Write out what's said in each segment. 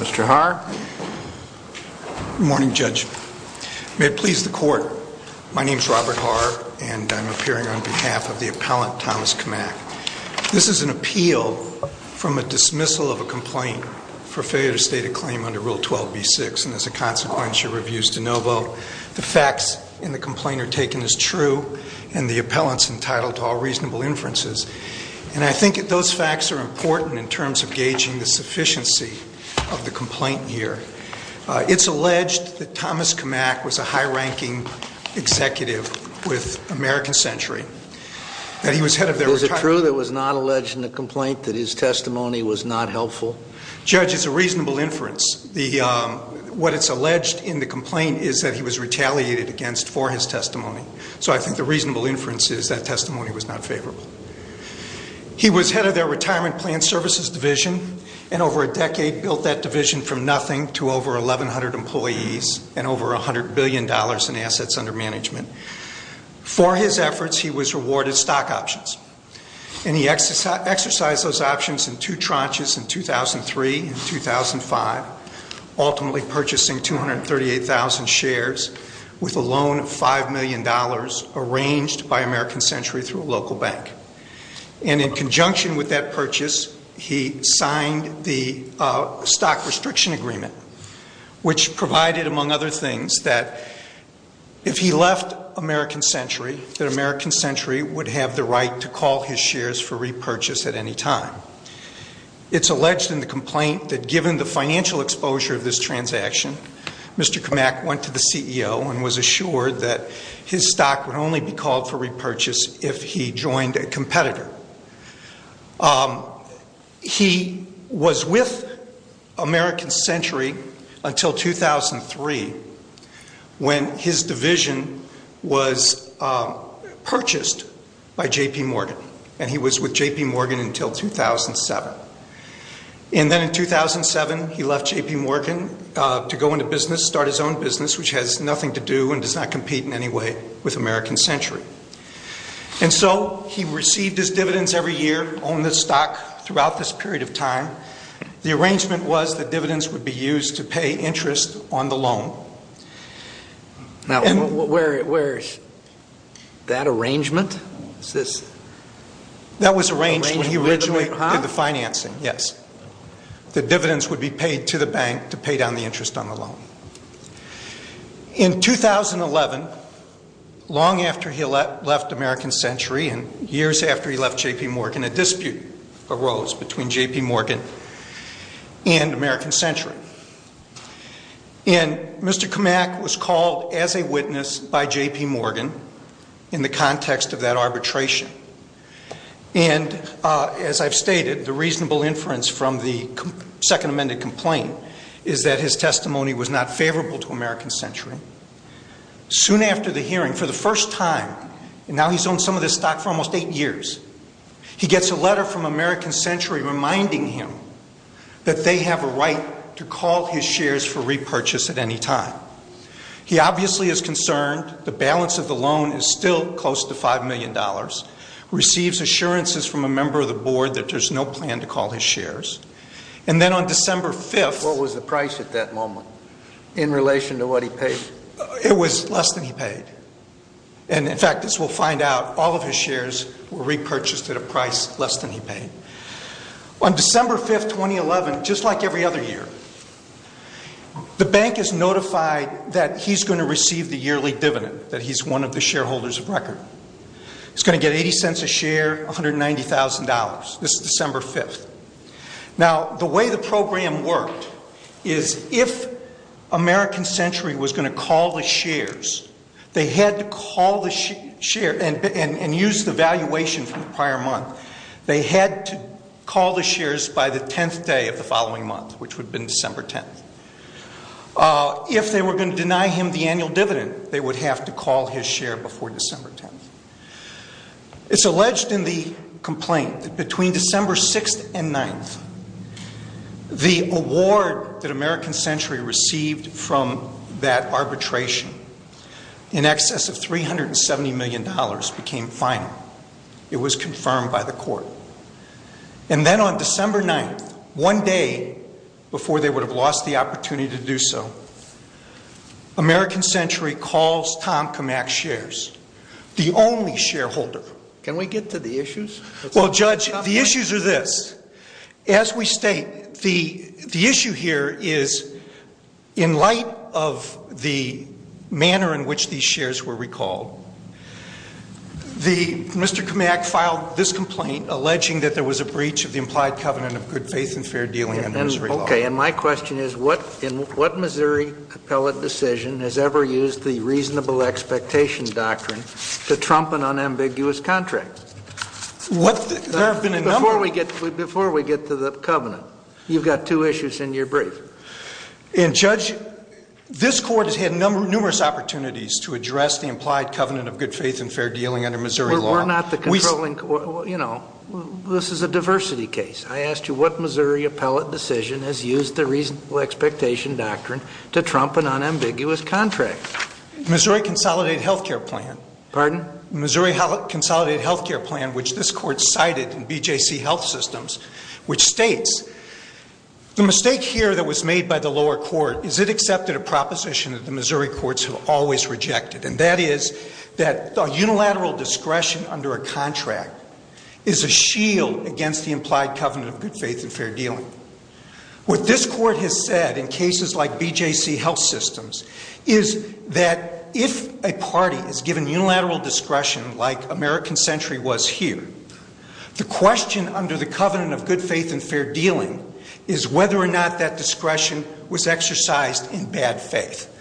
Mr. Haar. Good morning, Judge. May it please the Court, my name is Robert Haar, and I'm appearing on behalf of the appellant, Thomas Kmak. This is an appeal from a dismissal of a complaint for failure to state a claim under Rule 12b-6, and as a consequence, your review is de novo. The facts in the complaint are taken as true, and the appellant's entitled to all reasonable inferences, and I think that those facts are important in terms of gauging the sufficiency of the complaint here. It's alleged that Thomas Kmak was a high-ranking executive with American Century, that he was head of their retirement... Is it true that it was not alleged in the complaint that his testimony was not helpful? Judge, it's a reasonable inference. What it's alleged in the complaint is that he was retaliated against for his testimony was not favorable. He was head of their retirement plan services division, and over a decade built that division from nothing to over 1,100 employees and over $100 billion in assets under management. For his efforts, he was rewarded stock options, and he exercised those options in two tranches in 2003 and 2005, ultimately purchasing 238,000 shares with a loan of $5 million arranged by American Century through a local bank. And in conjunction with that purchase, he signed the stock restriction agreement, which provided, among other things, that if he left American Century, that American Century would have the right to call his shares for repurchase at any time. It's alleged in the complaint that given the financial exposure of this transaction, Mr. Kamak went to the CEO and was assured that his stock would only be called for repurchase if he joined a competitor. He was with American Century until 2003, when his division was purchased by J.P. Morgan, and he was with J.P. Morgan until 2007. And then in 2007, he left J.P. Morgan to go into business, start his own business, which has nothing to do and does not compete in any way with American Century. And so he received his dividends every year, owned this stock throughout this period of time. The arrangement was that dividends would be used to pay interest on the loan. Now, where is that arrangement? That was arranged when he originally did the financing, yes. The dividends would be paid to the bank to pay down the interest on the loan. In 2011, long after he left American Century and years after he left J.P. Morgan, a dispute arose between J.P. Morgan and American Century. And Mr. Kamak was called as a witness by J.P. Morgan in the context of that arbitration. And as I've stated, the reasonable inference from the second amended complaint is that his testimony was not favorable to American Century. Soon after the hearing, for the first time, and now he's owned some of this stock for almost eight years, he gets a letter from the bank to call his shares for repurchase at any time. He obviously is concerned the balance of the loan is still close to $5 million, receives assurances from a member of the board that there's no plan to call his shares. And then on December 5th... What was the price at that moment in relation to what he paid? It was less than he paid. And in fact, as we'll find out, all of his shares were repurchased at a price less than he paid. On December 5th, 2011, just like every other year, the bank is notified that he's going to receive the yearly dividend, that he's one of the shareholders of record. He's going to get 80 cents a share, $190,000. This is December 5th. Now, the way the program worked is if American Century was going to call the shares, they had to call the share and use the valuation from the prior month. They had to call the shares by the 10th day of the following month, which would have been December 10th. If they were going to deny him the annual dividend, they would have to call his share before December 10th. It's alleged in the complaint that between December 6th and 9th, the award that American Century received from that arbitration was in excess of $370 million became final. It was confirmed by the court. And then on December 9th, one day before they would have lost the opportunity to do so, American Century calls Tom Kamak's shares, the only shareholder. Can we get to the issues? Well, Judge, the issues are this. As we state, the issue here is in light of the manner in which these shares were recalled. Mr. Kamak filed this complaint alleging that there was a breach of the implied covenant of good faith and fair dealing under Missouri law. Okay. And my question is, in what Missouri appellate decision has ever used the reasonable expectation doctrine to trump an unambiguous contract? There have been a number... Before we get to the covenant, you've got two issues in your brief. And, Judge, this court has had numerous opportunities to address the implied covenant of good faith and fair dealing under Missouri law. We're not the controlling... You know, this is a diversity case. I asked you what Missouri appellate decision has used the reasonable expectation doctrine to trump an unambiguous contract. Missouri Consolidated Health Care Plan. Pardon? Missouri Consolidated Health Care Plan, which this court cited in BJC Health Systems, which states, the mistake here that was made by the lower court, is it accepted a proposition that the Missouri courts have always rejected. And that is that a unilateral discretion under a contract is a shield against the implied covenant of good faith and fair dealing. What this court has said in cases like BJC Health Systems is that if a party is given unilateral discretion like American Century was here, the question under the covenant of good faith and fair dealing is whether or not that discretion was exercised in bad faith.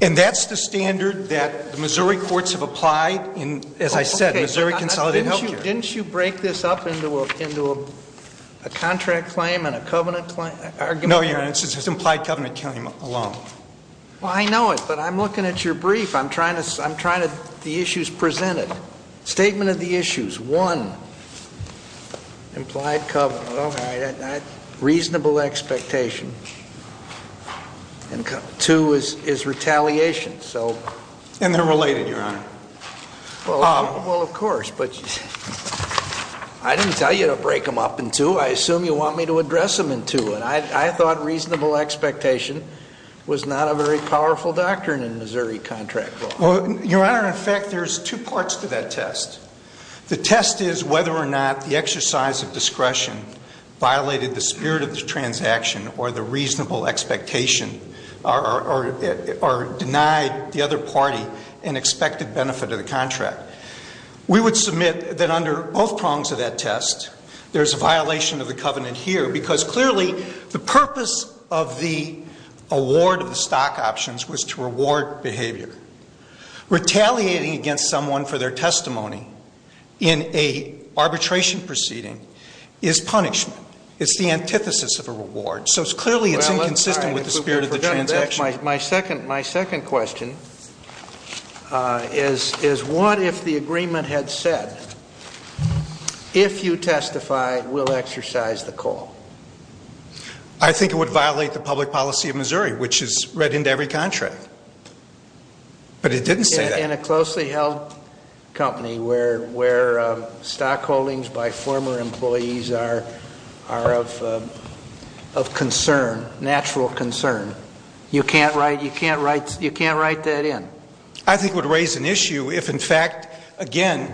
And that's the standard that the Missouri courts have applied in, as I said, Missouri Consolidated Health Care. Okay. Didn't you break this up into a contract claim and a covenant claim? No, Your Honor. It's an implied covenant claim alone. Well, I know it, but I'm looking at your brief. I'm trying to, I'm trying to, the issues presented. Statement of the issues. One, implied covenant, reasonable expectation. And two is, is retaliation. So And they're related, Your Honor. Well, well, of course, but I didn't tell you to break them up in two. I assume you want me to address them in two. And I, I thought reasonable expectation was not a very powerful doctrine in Missouri contract law. Well, Your Honor, in fact, there's two parts to that test. The test is whether or not the exercise of discretion violated the spirit of the transaction or the reasonable expectation or, or, or denied the other party an expected benefit of the contract. We would submit that under both prongs of that test, there's a violation of the covenant here because clearly the purpose of the award of the stock options was to reward behavior. Retaliating against someone for their testimony in a arbitration proceeding is punishment. It's the antithesis of a reward. So it's clearly, it's inconsistent with the spirit of the transaction. My second, my second question is, is what if the agreement had said, if you testify we'll exercise the call? I think it would violate the public policy of Missouri, which is read into every contract. But it didn't say that. In a closely held company where, where stock holdings by former employees are, are of, of concern, natural concern. You can't write, you can't write, you can't write that in. I think it would raise an issue if in fact, again,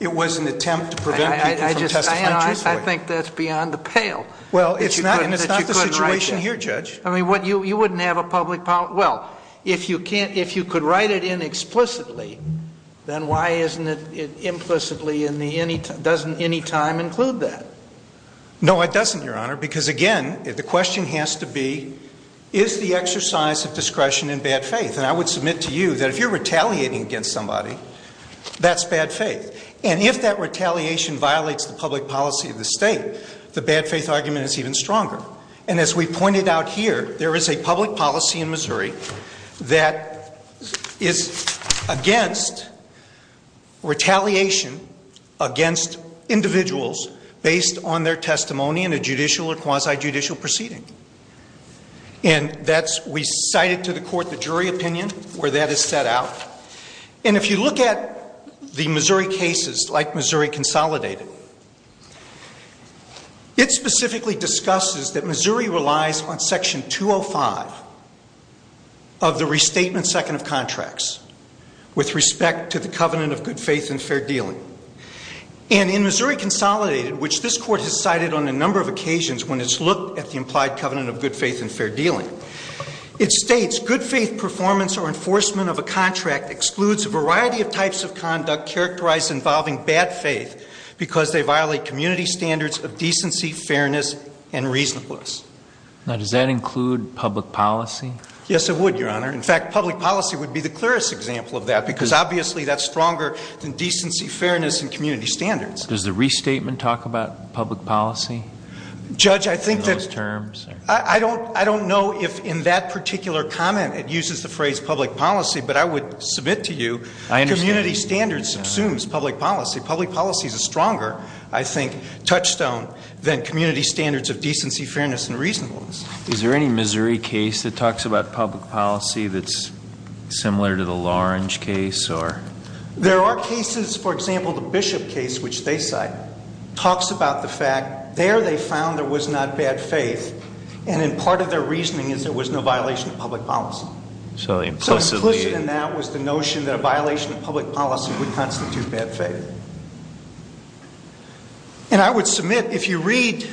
it was an attempt to prevent people from testifying truthfully. I think that's beyond the pale. Well, it's not, it's not the situation here, Judge. I mean, what you, you wouldn't have a public, well, if you can't, if you could write it in explicitly, then why isn't it implicitly in the any, doesn't any time include that? No, it doesn't, Your Honor. Because again, the question has to be, is the exercise of discretion in bad faith? And I would submit to you that if you're retaliating against somebody, that's bad faith. And if that retaliation violates the public policy of the state, the bad faith argument is even stronger. And as we pointed out here, there is a public policy in Missouri that is against retaliation against individuals based on their testimony in a judicial or quasi-judicial proceeding. And that's, we cited to the court the jury opinion where that is set out. And if you look at the Missouri cases, like Missouri Consolidated, it specifically discusses that Missouri relies on Section 205 of the Restatement Second of Contracts with respect to the covenant of good faith and fair dealing. And in Missouri Consolidated, which this Court has cited on a number of occasions when it's implied covenant of good faith and fair dealing, it states, good faith performance or enforcement of a contract excludes a variety of types of conduct characterized involving bad faith because they violate community standards of decency, fairness, and reasonableness. Now, does that include public policy? Yes, it would, Your Honor. In fact, public policy would be the clearest example of that because obviously that's stronger than decency, fairness, and community standards. Does the restatement talk about public policy? Judge, I think that I don't know if in that particular comment it uses the phrase public policy, but I would submit to you community standards subsumes public policy. Public policy is a stronger, I think, touchstone than community standards of decency, fairness, and reasonableness. Is there any Missouri case that talks about public policy that's similar to the Lawrence case? There are cases, for example, the Bishop case, which they cite, talks about the fact there they found there was not bad faith, and part of their reasoning is there was no violation of public policy. So implicit in that was the notion that a violation of public policy would constitute bad faith. And I would submit if you read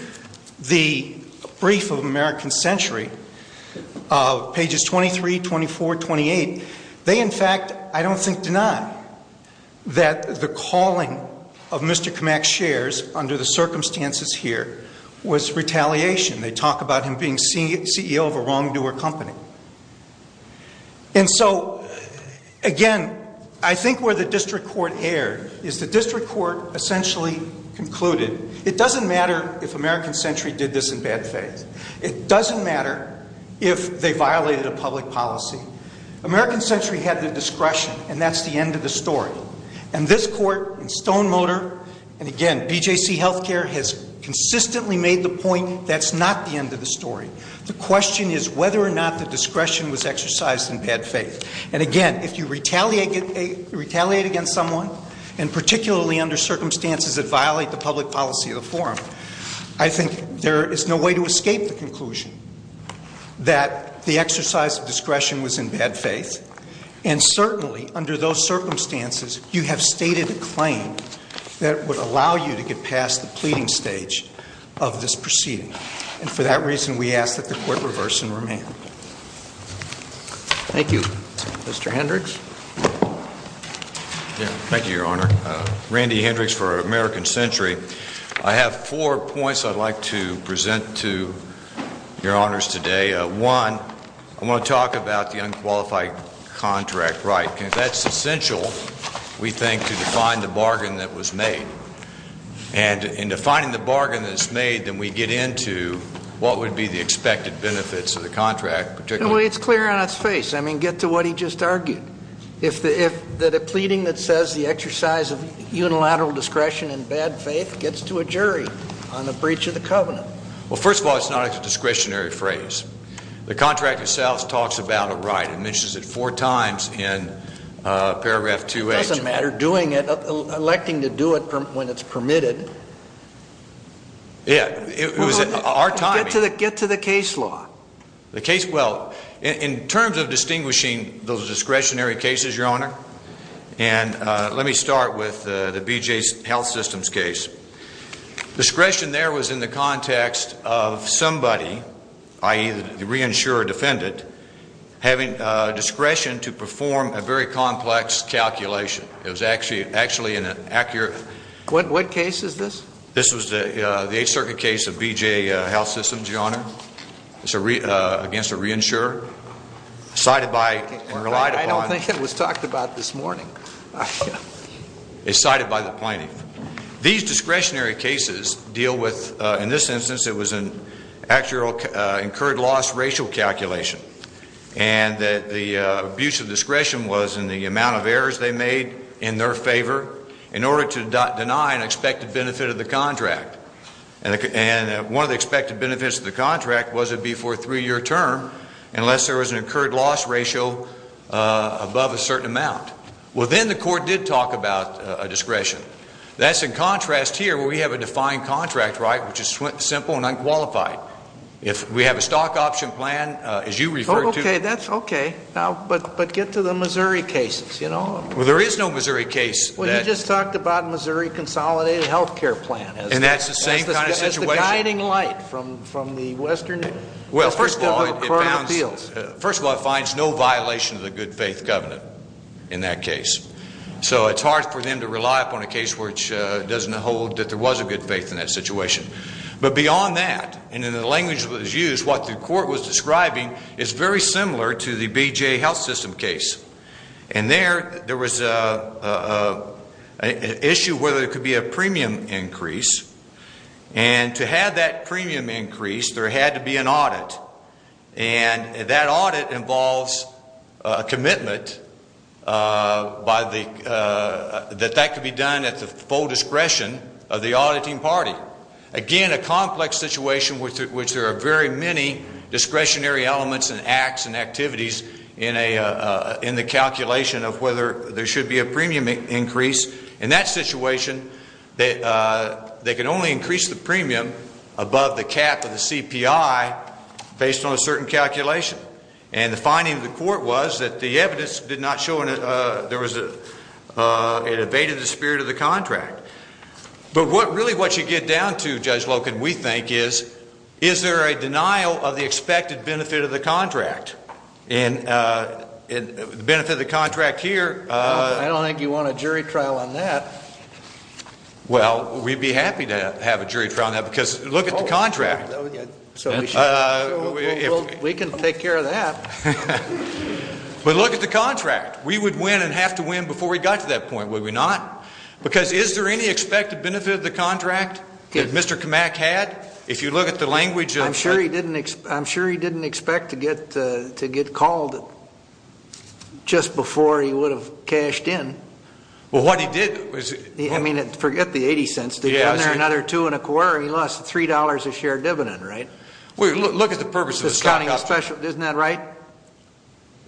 the brief of American Century, pages 23, 24, 28, they, in fact, I don't think deny that the calling of Mr. Kamak's shares under the circumstances here was retaliation. They talk about him being CEO of a wrongdoer company. And so, again, I think where the district court erred is the district court essentially concluded it doesn't matter if American Century did this in bad faith. It doesn't matter if they violated a public policy. American Century had the discretion, and that's the end of the story. And this court in Stone Motor, and, again, BJC Healthcare has consistently made the point that's not the end of the story. The question is whether or not the discretion was exercised in bad faith. And, again, if you retaliate against someone, and particularly under circumstances that violate the public policy of the forum, I think there is no way to escape the conclusion that the exercise of discretion was in bad faith. And, certainly, under those circumstances, you have stated a claim that would allow you to get past the pleading stage of this proceeding. And for that reason, we ask that the court reverse and remand. Thank you. Mr. Hendricks? Thank you, Your Honor. Randy Hendricks for American Century. I have four points I'd like to present to Your Honors today. One, I want to talk about the unqualified contract right. That's essential, we think, to define the bargain that was made. And in defining the bargain that was made, then we get into what would be the expected benefits of the contract. Well, it's clear on its face. I mean, get to what he just argued. That a pleading that says the exercise of unilateral discretion in bad faith gets to a jury on the breach of the covenant. Well, first of all, it's not a discretionary phrase. The contract itself talks about a right. It mentions it four times in paragraph 2H. It doesn't matter, doing it, electing to do it when it's permitted. Yeah, it was our time. Get to the case law. The case, well, in terms of distinguishing those discretionary cases, Your Honor, and let me start with the BJ Health Systems case. Discretion there was in the context of somebody, i.e., the reinsurer defendant, having discretion to perform a very complex calculation. It was actually an accurate. What case is this? This was the Eighth Circuit case of BJ Health Systems, Your Honor. It's against a reinsurer cited by and relied upon. I don't think it was talked about this morning. It's cited by the plaintiff. These discretionary cases deal with, in this instance, it was an actual incurred loss racial calculation, and that the abuse of discretion was in the amount of errors they made in their favor in order to deny an expected benefit of the contract. And one of the expected benefits of the contract was it would be for a three-year term unless there was an incurred loss ratio above a certain amount. Well, then the court did talk about a discretion. That's in contrast here where we have a defined contract right, which is simple and unqualified. If we have a stock option plan, as you referred to. Okay, that's okay. But get to the Missouri cases, you know. Well, there is no Missouri case. Well, you just talked about Missouri consolidated health care plan. And that's the same kind of situation. That's the guiding light from the western, the first of our current appeals. Well, first of all, it finds no violation of the good faith covenant in that case. So it's hard for them to rely upon a case which doesn't hold that there was a good faith in that situation. But beyond that, and in the language that was used, what the court was describing is very similar to the BJA health system case. And there, there was an issue whether there could be a premium increase. And to have that premium increase, there had to be an audit. And that audit involves a commitment that that could be done at the full discretion of the auditing party. Again, a complex situation which there are very many discretionary elements and acts and activities in the calculation of whether there should be a premium increase. In that situation, they could only increase the premium above the cap of the CPI based on a certain calculation. And the finding of the court was that the evidence did not show there was a, it evaded the spirit of the contract. But what, really what you get down to, Judge Loken, we think is, is there a denial of the expected benefit of the contract? And the benefit of the contract here. I don't think you want a jury trial on that. Well, we'd be happy to have a jury trial on that because look at the contract. We can take care of that. But look at the contract. We would win and have to win before we got to that point, would we not? Because is there any expected benefit of the contract that Mr. Kamak had? If you look at the language of the. I'm sure he didn't expect to get called just before he would have cashed in. Well, what he did was. I mean, forget the 80 cents. Did he earn another two and a quarter? He lost $3 a share dividend, right? Look at the purpose of the stock option. Isn't that right?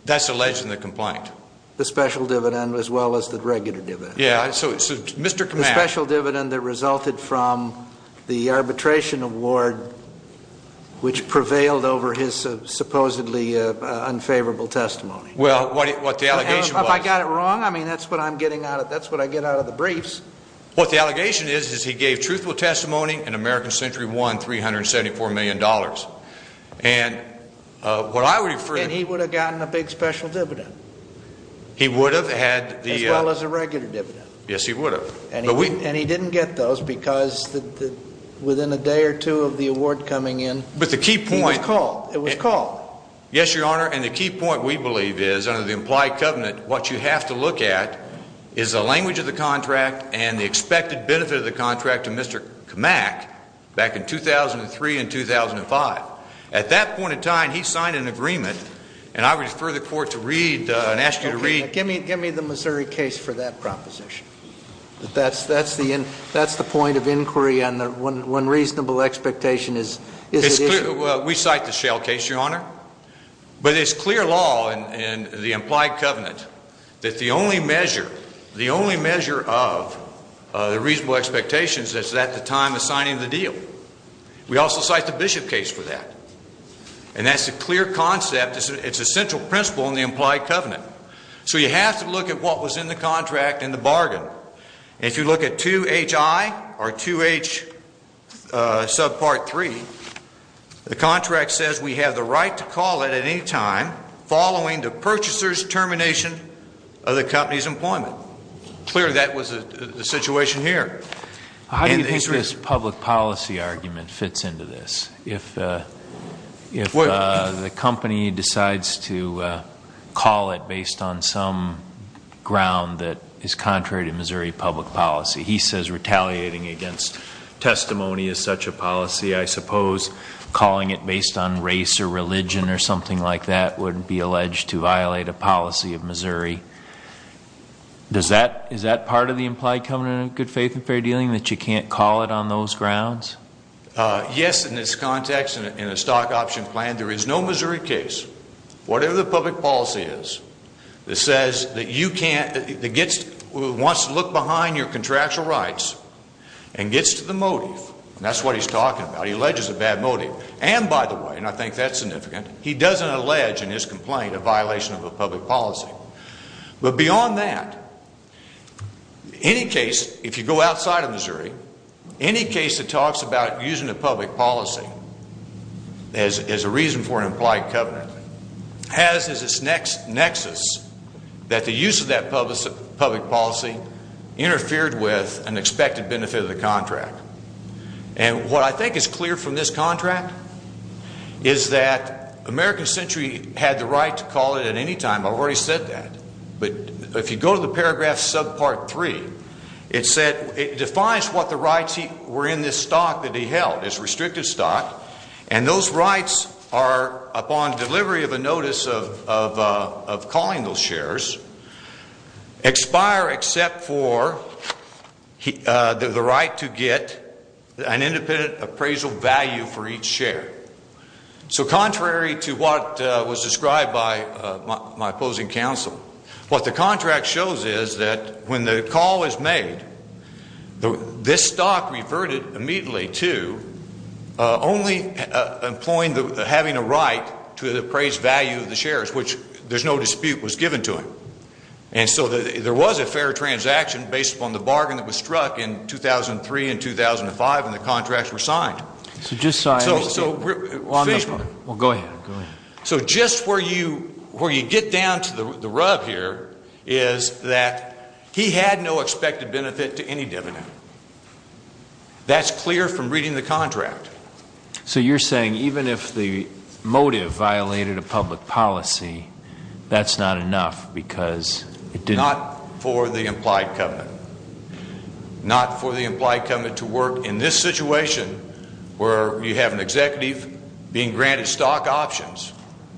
That's alleged in the complaint. The special dividend as well as the regular dividend. Yeah. So, Mr. Kamak. The special dividend that resulted from the arbitration award which prevailed over his supposedly unfavorable testimony. Well, what the allegation was. If I got it wrong, I mean, that's what I'm getting out of. That's what I get out of the briefs. What the allegation is is he gave truthful testimony and American Century won $374 million. And what I would. And he would have gotten a big special dividend. He would have had the. As well as a regular dividend. Yes, he would have. And he didn't get those because within a day or two of the award coming in. But the key point. It was called. It was called. Yes, Your Honor. And the key point, we believe, is under the implied covenant, what you have to look at is the language of the contract and the expected benefit of the contract to Mr. Kamak back in 2003 and 2005. At that point in time, he signed an agreement. And I would refer the court to read and ask you to read. Give me the Missouri case for that proposition. That's the point of inquiry on when reasonable expectation is. We cite the Shell case, Your Honor. But it's clear law in the implied covenant that the only measure, the only measure of the reasonable expectations is at the time of signing the deal. We also cite the Bishop case for that. And that's a clear concept. It's a central principle in the implied covenant. So you have to look at what was in the contract and the bargain. If you look at 2HI or 2H subpart 3, the contract says we have the right to call it at any time following the purchaser's termination of the company's employment. Clearly that was the situation here. How do you think this public policy argument fits into this? If the company decides to call it based on some ground that is contrary to Missouri public policy, he says retaliating against testimony is such a policy, I suppose, calling it based on race or religion or something like that would be alleged to violate a policy of Missouri. Is that part of the implied covenant of good faith and fair dealing, that you can't call it on those grounds? Yes, in this context, in a stock option plan, there is no Missouri case, whatever the public policy is, that says that you can't, that wants to look behind your contractual rights and gets to the motive. And that's what he's talking about. He alleges a bad motive. And, by the way, and I think that's significant, he doesn't allege in his complaint a violation of a public policy. But beyond that, any case, if you go outside of Missouri, any case that talks about using a public policy as a reason for an implied covenant has as its nexus that the use of that public policy interfered with an expected benefit of the contract. And what I think is clear from this contract is that American Century had the right to call it at any time. I've already said that. But if you go to the paragraph sub part three, it defines what the rights were in this stock that he held, this restrictive stock, and those rights are upon delivery of a notice of calling those shares, expire except for the right to get an independent appraisal value for each share. So contrary to what was described by my opposing counsel, what the contract shows is that when the call is made, this stock reverted immediately to only having a right to the appraised value of the shares, which there's no dispute was given to him. And so there was a fair transaction based upon the bargain that was struck in 2003 and 2005, and the contracts were signed. So just so I understand. So just where you get down to the rub here is that he had no expected benefit to any dividend. That's clear from reading the contract. So you're saying even if the motive violated a public policy, that's not enough because it didn't? Not for the implied covenant. Not for the implied covenant to work in this situation where you have an executive being granted stock options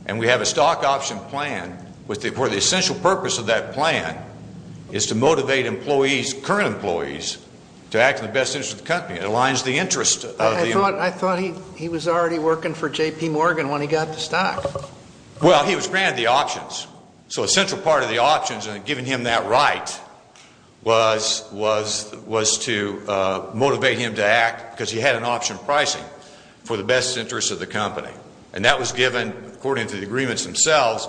and we have a stock option plan where the essential purpose of that plan is to motivate employees, current employees, to act in the best interest of the company. It aligns the interest of the employees. I thought he was already working for J.P. Morgan when he got the stock. Well, he was granted the options. So a central part of the options and giving him that right was to motivate him to act because he had an option pricing for the best interest of the company. And that was given, according to the agreements themselves,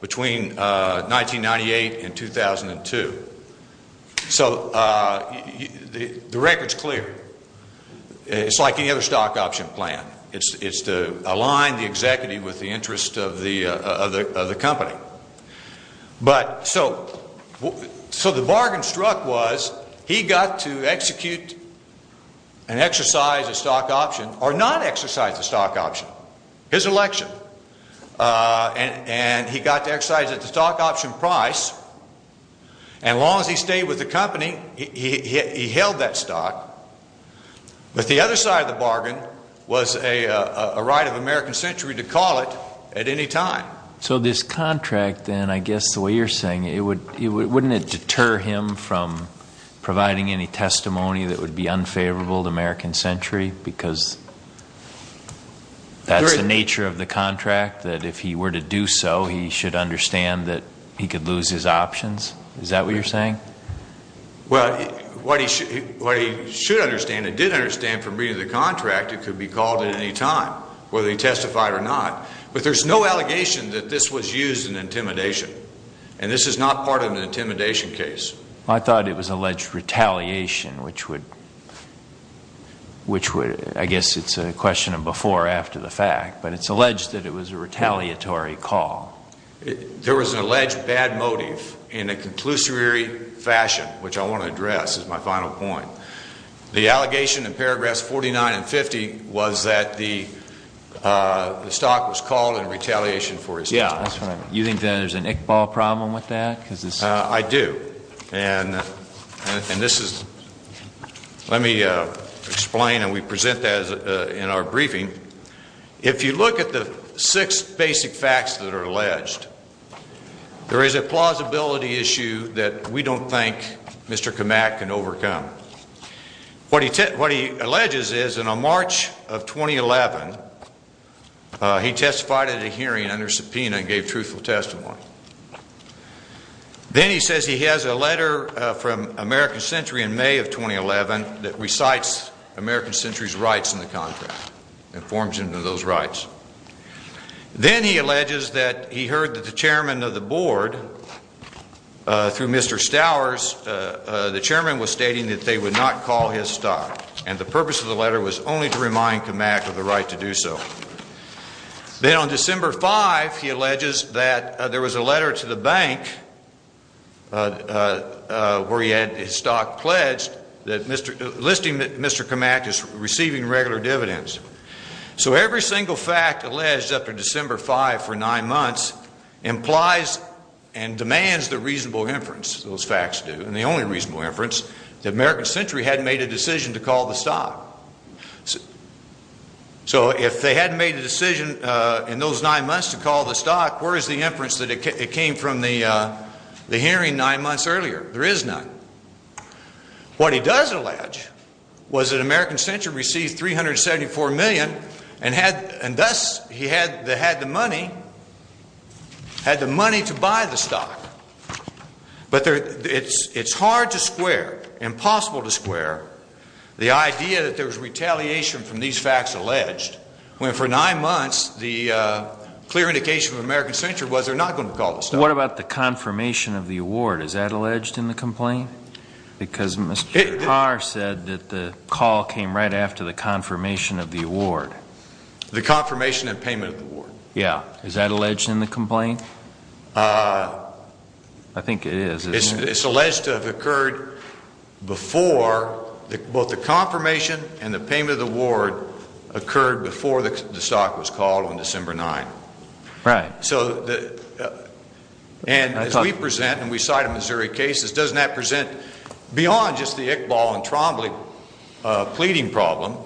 between 1998 and 2002. So the record's clear. It's like any other stock option plan. It's to align the executive with the interest of the company. So the bargain struck was he got to execute and exercise a stock option or not exercise a stock option. His election. And he got to exercise it at the stock option price. And as long as he stayed with the company, he held that stock. But the other side of the bargain was a right of American Century to call it at any time. So this contract then, I guess the way you're saying it, wouldn't it deter him from providing any testimony that would be unfavorable to American Century because that's the nature of the contract, that if he were to do so, he should understand that he could lose his options? Is that what you're saying? Well, what he should understand and did understand from reading the contract, it could be called at any time, whether he testified or not. But there's no allegation that this was used in intimidation. And this is not part of an intimidation case. I thought it was alleged retaliation, which would, I guess it's a question of before or after the fact. But it's alleged that it was a retaliatory call. There was an alleged bad motive in a conclusory fashion, which I want to address as my final point. The allegation in paragraphs 49 and 50 was that the stock was called in retaliation for his death. You think that there's an Iqbal problem with that? I do. And this is, let me explain, and we present that in our briefing. If you look at the six basic facts that are alleged, there is a plausibility issue that we don't think Mr. Kamak can overcome. What he alleges is in March of 2011, he testified at a hearing under subpoena and gave truthful testimony. Then he says he has a letter from American Century in May of 2011 that recites American Century's rights in the contract and informs him of those rights. Then he alleges that he heard that the chairman of the board, through Mr. Stowers, the chairman was stating that they would not call his stock, and the purpose of the letter was only to remind Kamak of the right to do so. Then on December 5, he alleges that there was a letter to the bank where he had his stock pledged listing that Mr. Kamak is receiving regular dividends. So every single fact alleged after December 5 for nine months implies and demands the reasonable inference, those facts do, and the only reasonable inference, that American Century hadn't made a decision to call the stock. So if they hadn't made a decision in those nine months to call the stock, where is the inference that it came from the hearing nine months earlier? There is none. What he does allege was that American Century received $374 million and thus he had the money to buy the stock. But it's hard to square, impossible to square, the idea that there was retaliation from these facts alleged when for nine months the clear indication of American Century was they're not going to call the stock. What about the confirmation of the award, is that alleged in the complaint? Because Mr. Carr said that the call came right after the confirmation of the award. The confirmation and payment of the award. Yeah, is that alleged in the complaint? I think it is. It's alleged to have occurred before, both the confirmation and the payment of the award, occurred before the stock was called on December 9. Right. And as we present and we cite in Missouri cases, doesn't that present beyond just the Iqbal and Trombley pleading problem?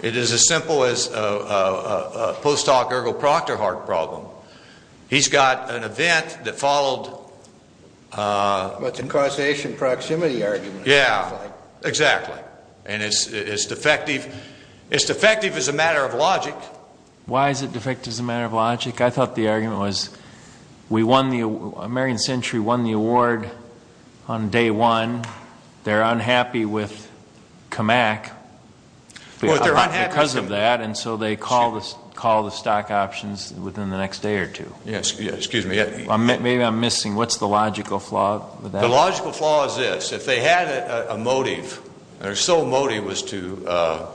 It is as simple as a post hoc ergo proctor heart problem. He's got an event that followed. What's a causation proximity argument? Yeah, exactly. It's defective as a matter of logic. Why is it defective as a matter of logic? I thought the argument was American Century won the award on day one. They're unhappy with CAMAC because of that, and so they call the stock options within the next day or two. Excuse me. Maybe I'm missing. What's the logical flaw with that? The logical flaw is this. If they had a motive, their sole motive was to.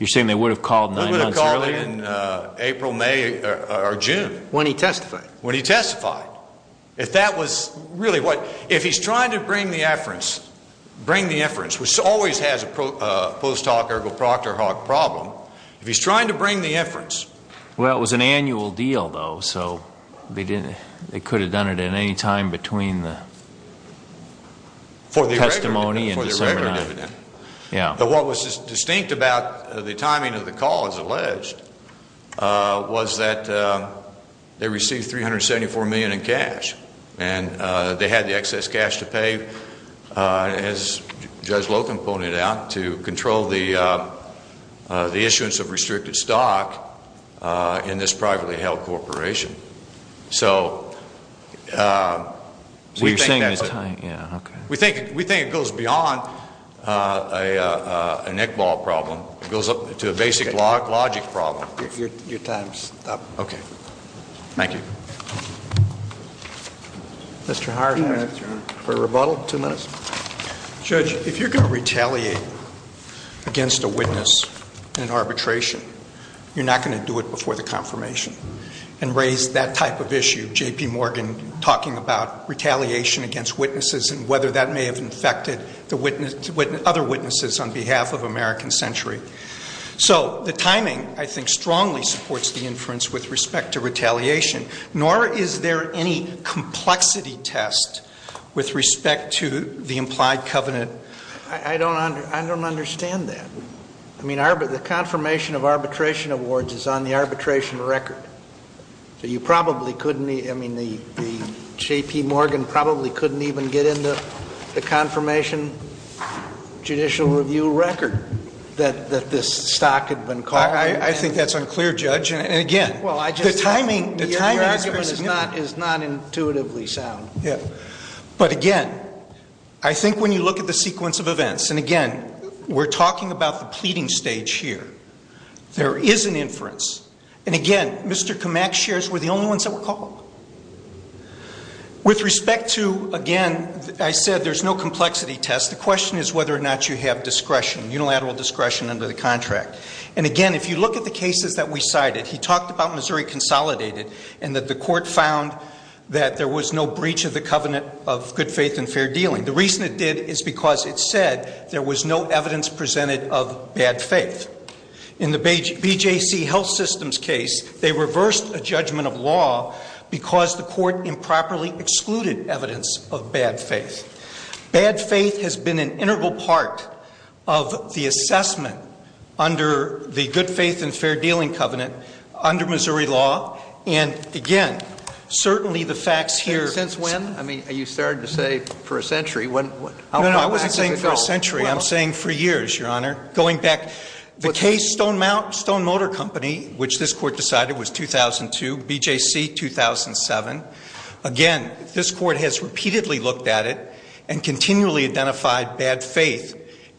You're saying they would have called nine months earlier? They would have called in April, May, or June. When he testified. When he testified. If that was really what. If he's trying to bring the inference, which always has a post hoc ergo proctor heart problem, if he's trying to bring the inference. Well, it was an annual deal, though, so they could have done it at any time between the testimony and December 9. But what was distinct about the timing of the call, as alleged, was that they received $374 million in cash, and they had the excess cash to pay, as Judge Lotham pointed out, to control the issuance of restricted stock in this privately held corporation. So we think it goes beyond a neck ball problem. It goes up to a basic logic problem. Your time's up. Okay. Thank you. Mr. Hart, for a rebuttal, two minutes. Judge, if you're going to retaliate against a witness in arbitration, you're not going to do it before the confirmation. And raise that type of issue, J.P. Morgan talking about retaliation against witnesses and whether that may have infected other witnesses on behalf of American Century. So the timing, I think, strongly supports the inference with respect to retaliation, nor is there any complexity test with respect to the implied covenant. I don't understand that. I mean, the confirmation of arbitration awards is on the arbitration record. So you probably couldn't, I mean, J.P. Morgan probably couldn't even get into the confirmation judicial review record that this stock had been called. I think that's unclear, Judge. And, again, the timing of the argument is not intuitively sound. But, again, I think when you look at the sequence of events and, again, we're talking about the pleading stage here, there is an inference. And, again, Mr. Kamak's shares were the only ones that were called. With respect to, again, I said there's no complexity test. The question is whether or not you have discretion, unilateral discretion under the contract. And, again, if you look at the cases that we cited, he talked about Missouri Consolidated and that the court found that there was no breach of the covenant of good faith and fair dealing. The reason it did is because it said there was no evidence presented of bad faith. In the BJC Health Systems case, they reversed a judgment of law because the court improperly excluded evidence of bad faith. Bad faith has been an integral part of the assessment under the good faith and fair dealing covenant under Missouri law. And, again, certainly the facts here— No, no, I wasn't saying for a century. I'm saying for years, Your Honor. Going back, the case Stone Motor Company, which this court decided was 2002, BJC 2007, again, this court has repeatedly looked at it and continually identified bad faith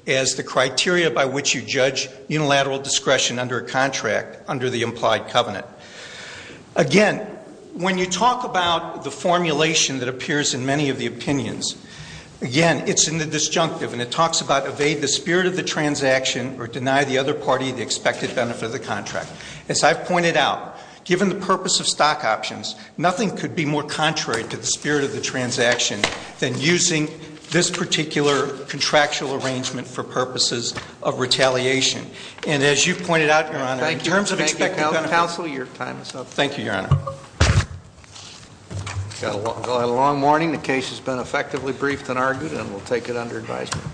as the criteria by which you judge unilateral discretion under a contract under the implied covenant. Again, when you talk about the formulation that appears in many of the opinions, again, it's in the disjunctive, and it talks about evade the spirit of the transaction or deny the other party the expected benefit of the contract. As I've pointed out, given the purpose of stock options, nothing could be more contrary to the spirit of the transaction than using this particular contractual arrangement for purposes of retaliation. And as you pointed out, Your Honor, in terms of expected benefit— Thank you, counsel. Your time is up. Thank you, Your Honor. We've got a long morning. The case has been effectively briefed and argued, and we'll take it under advisement.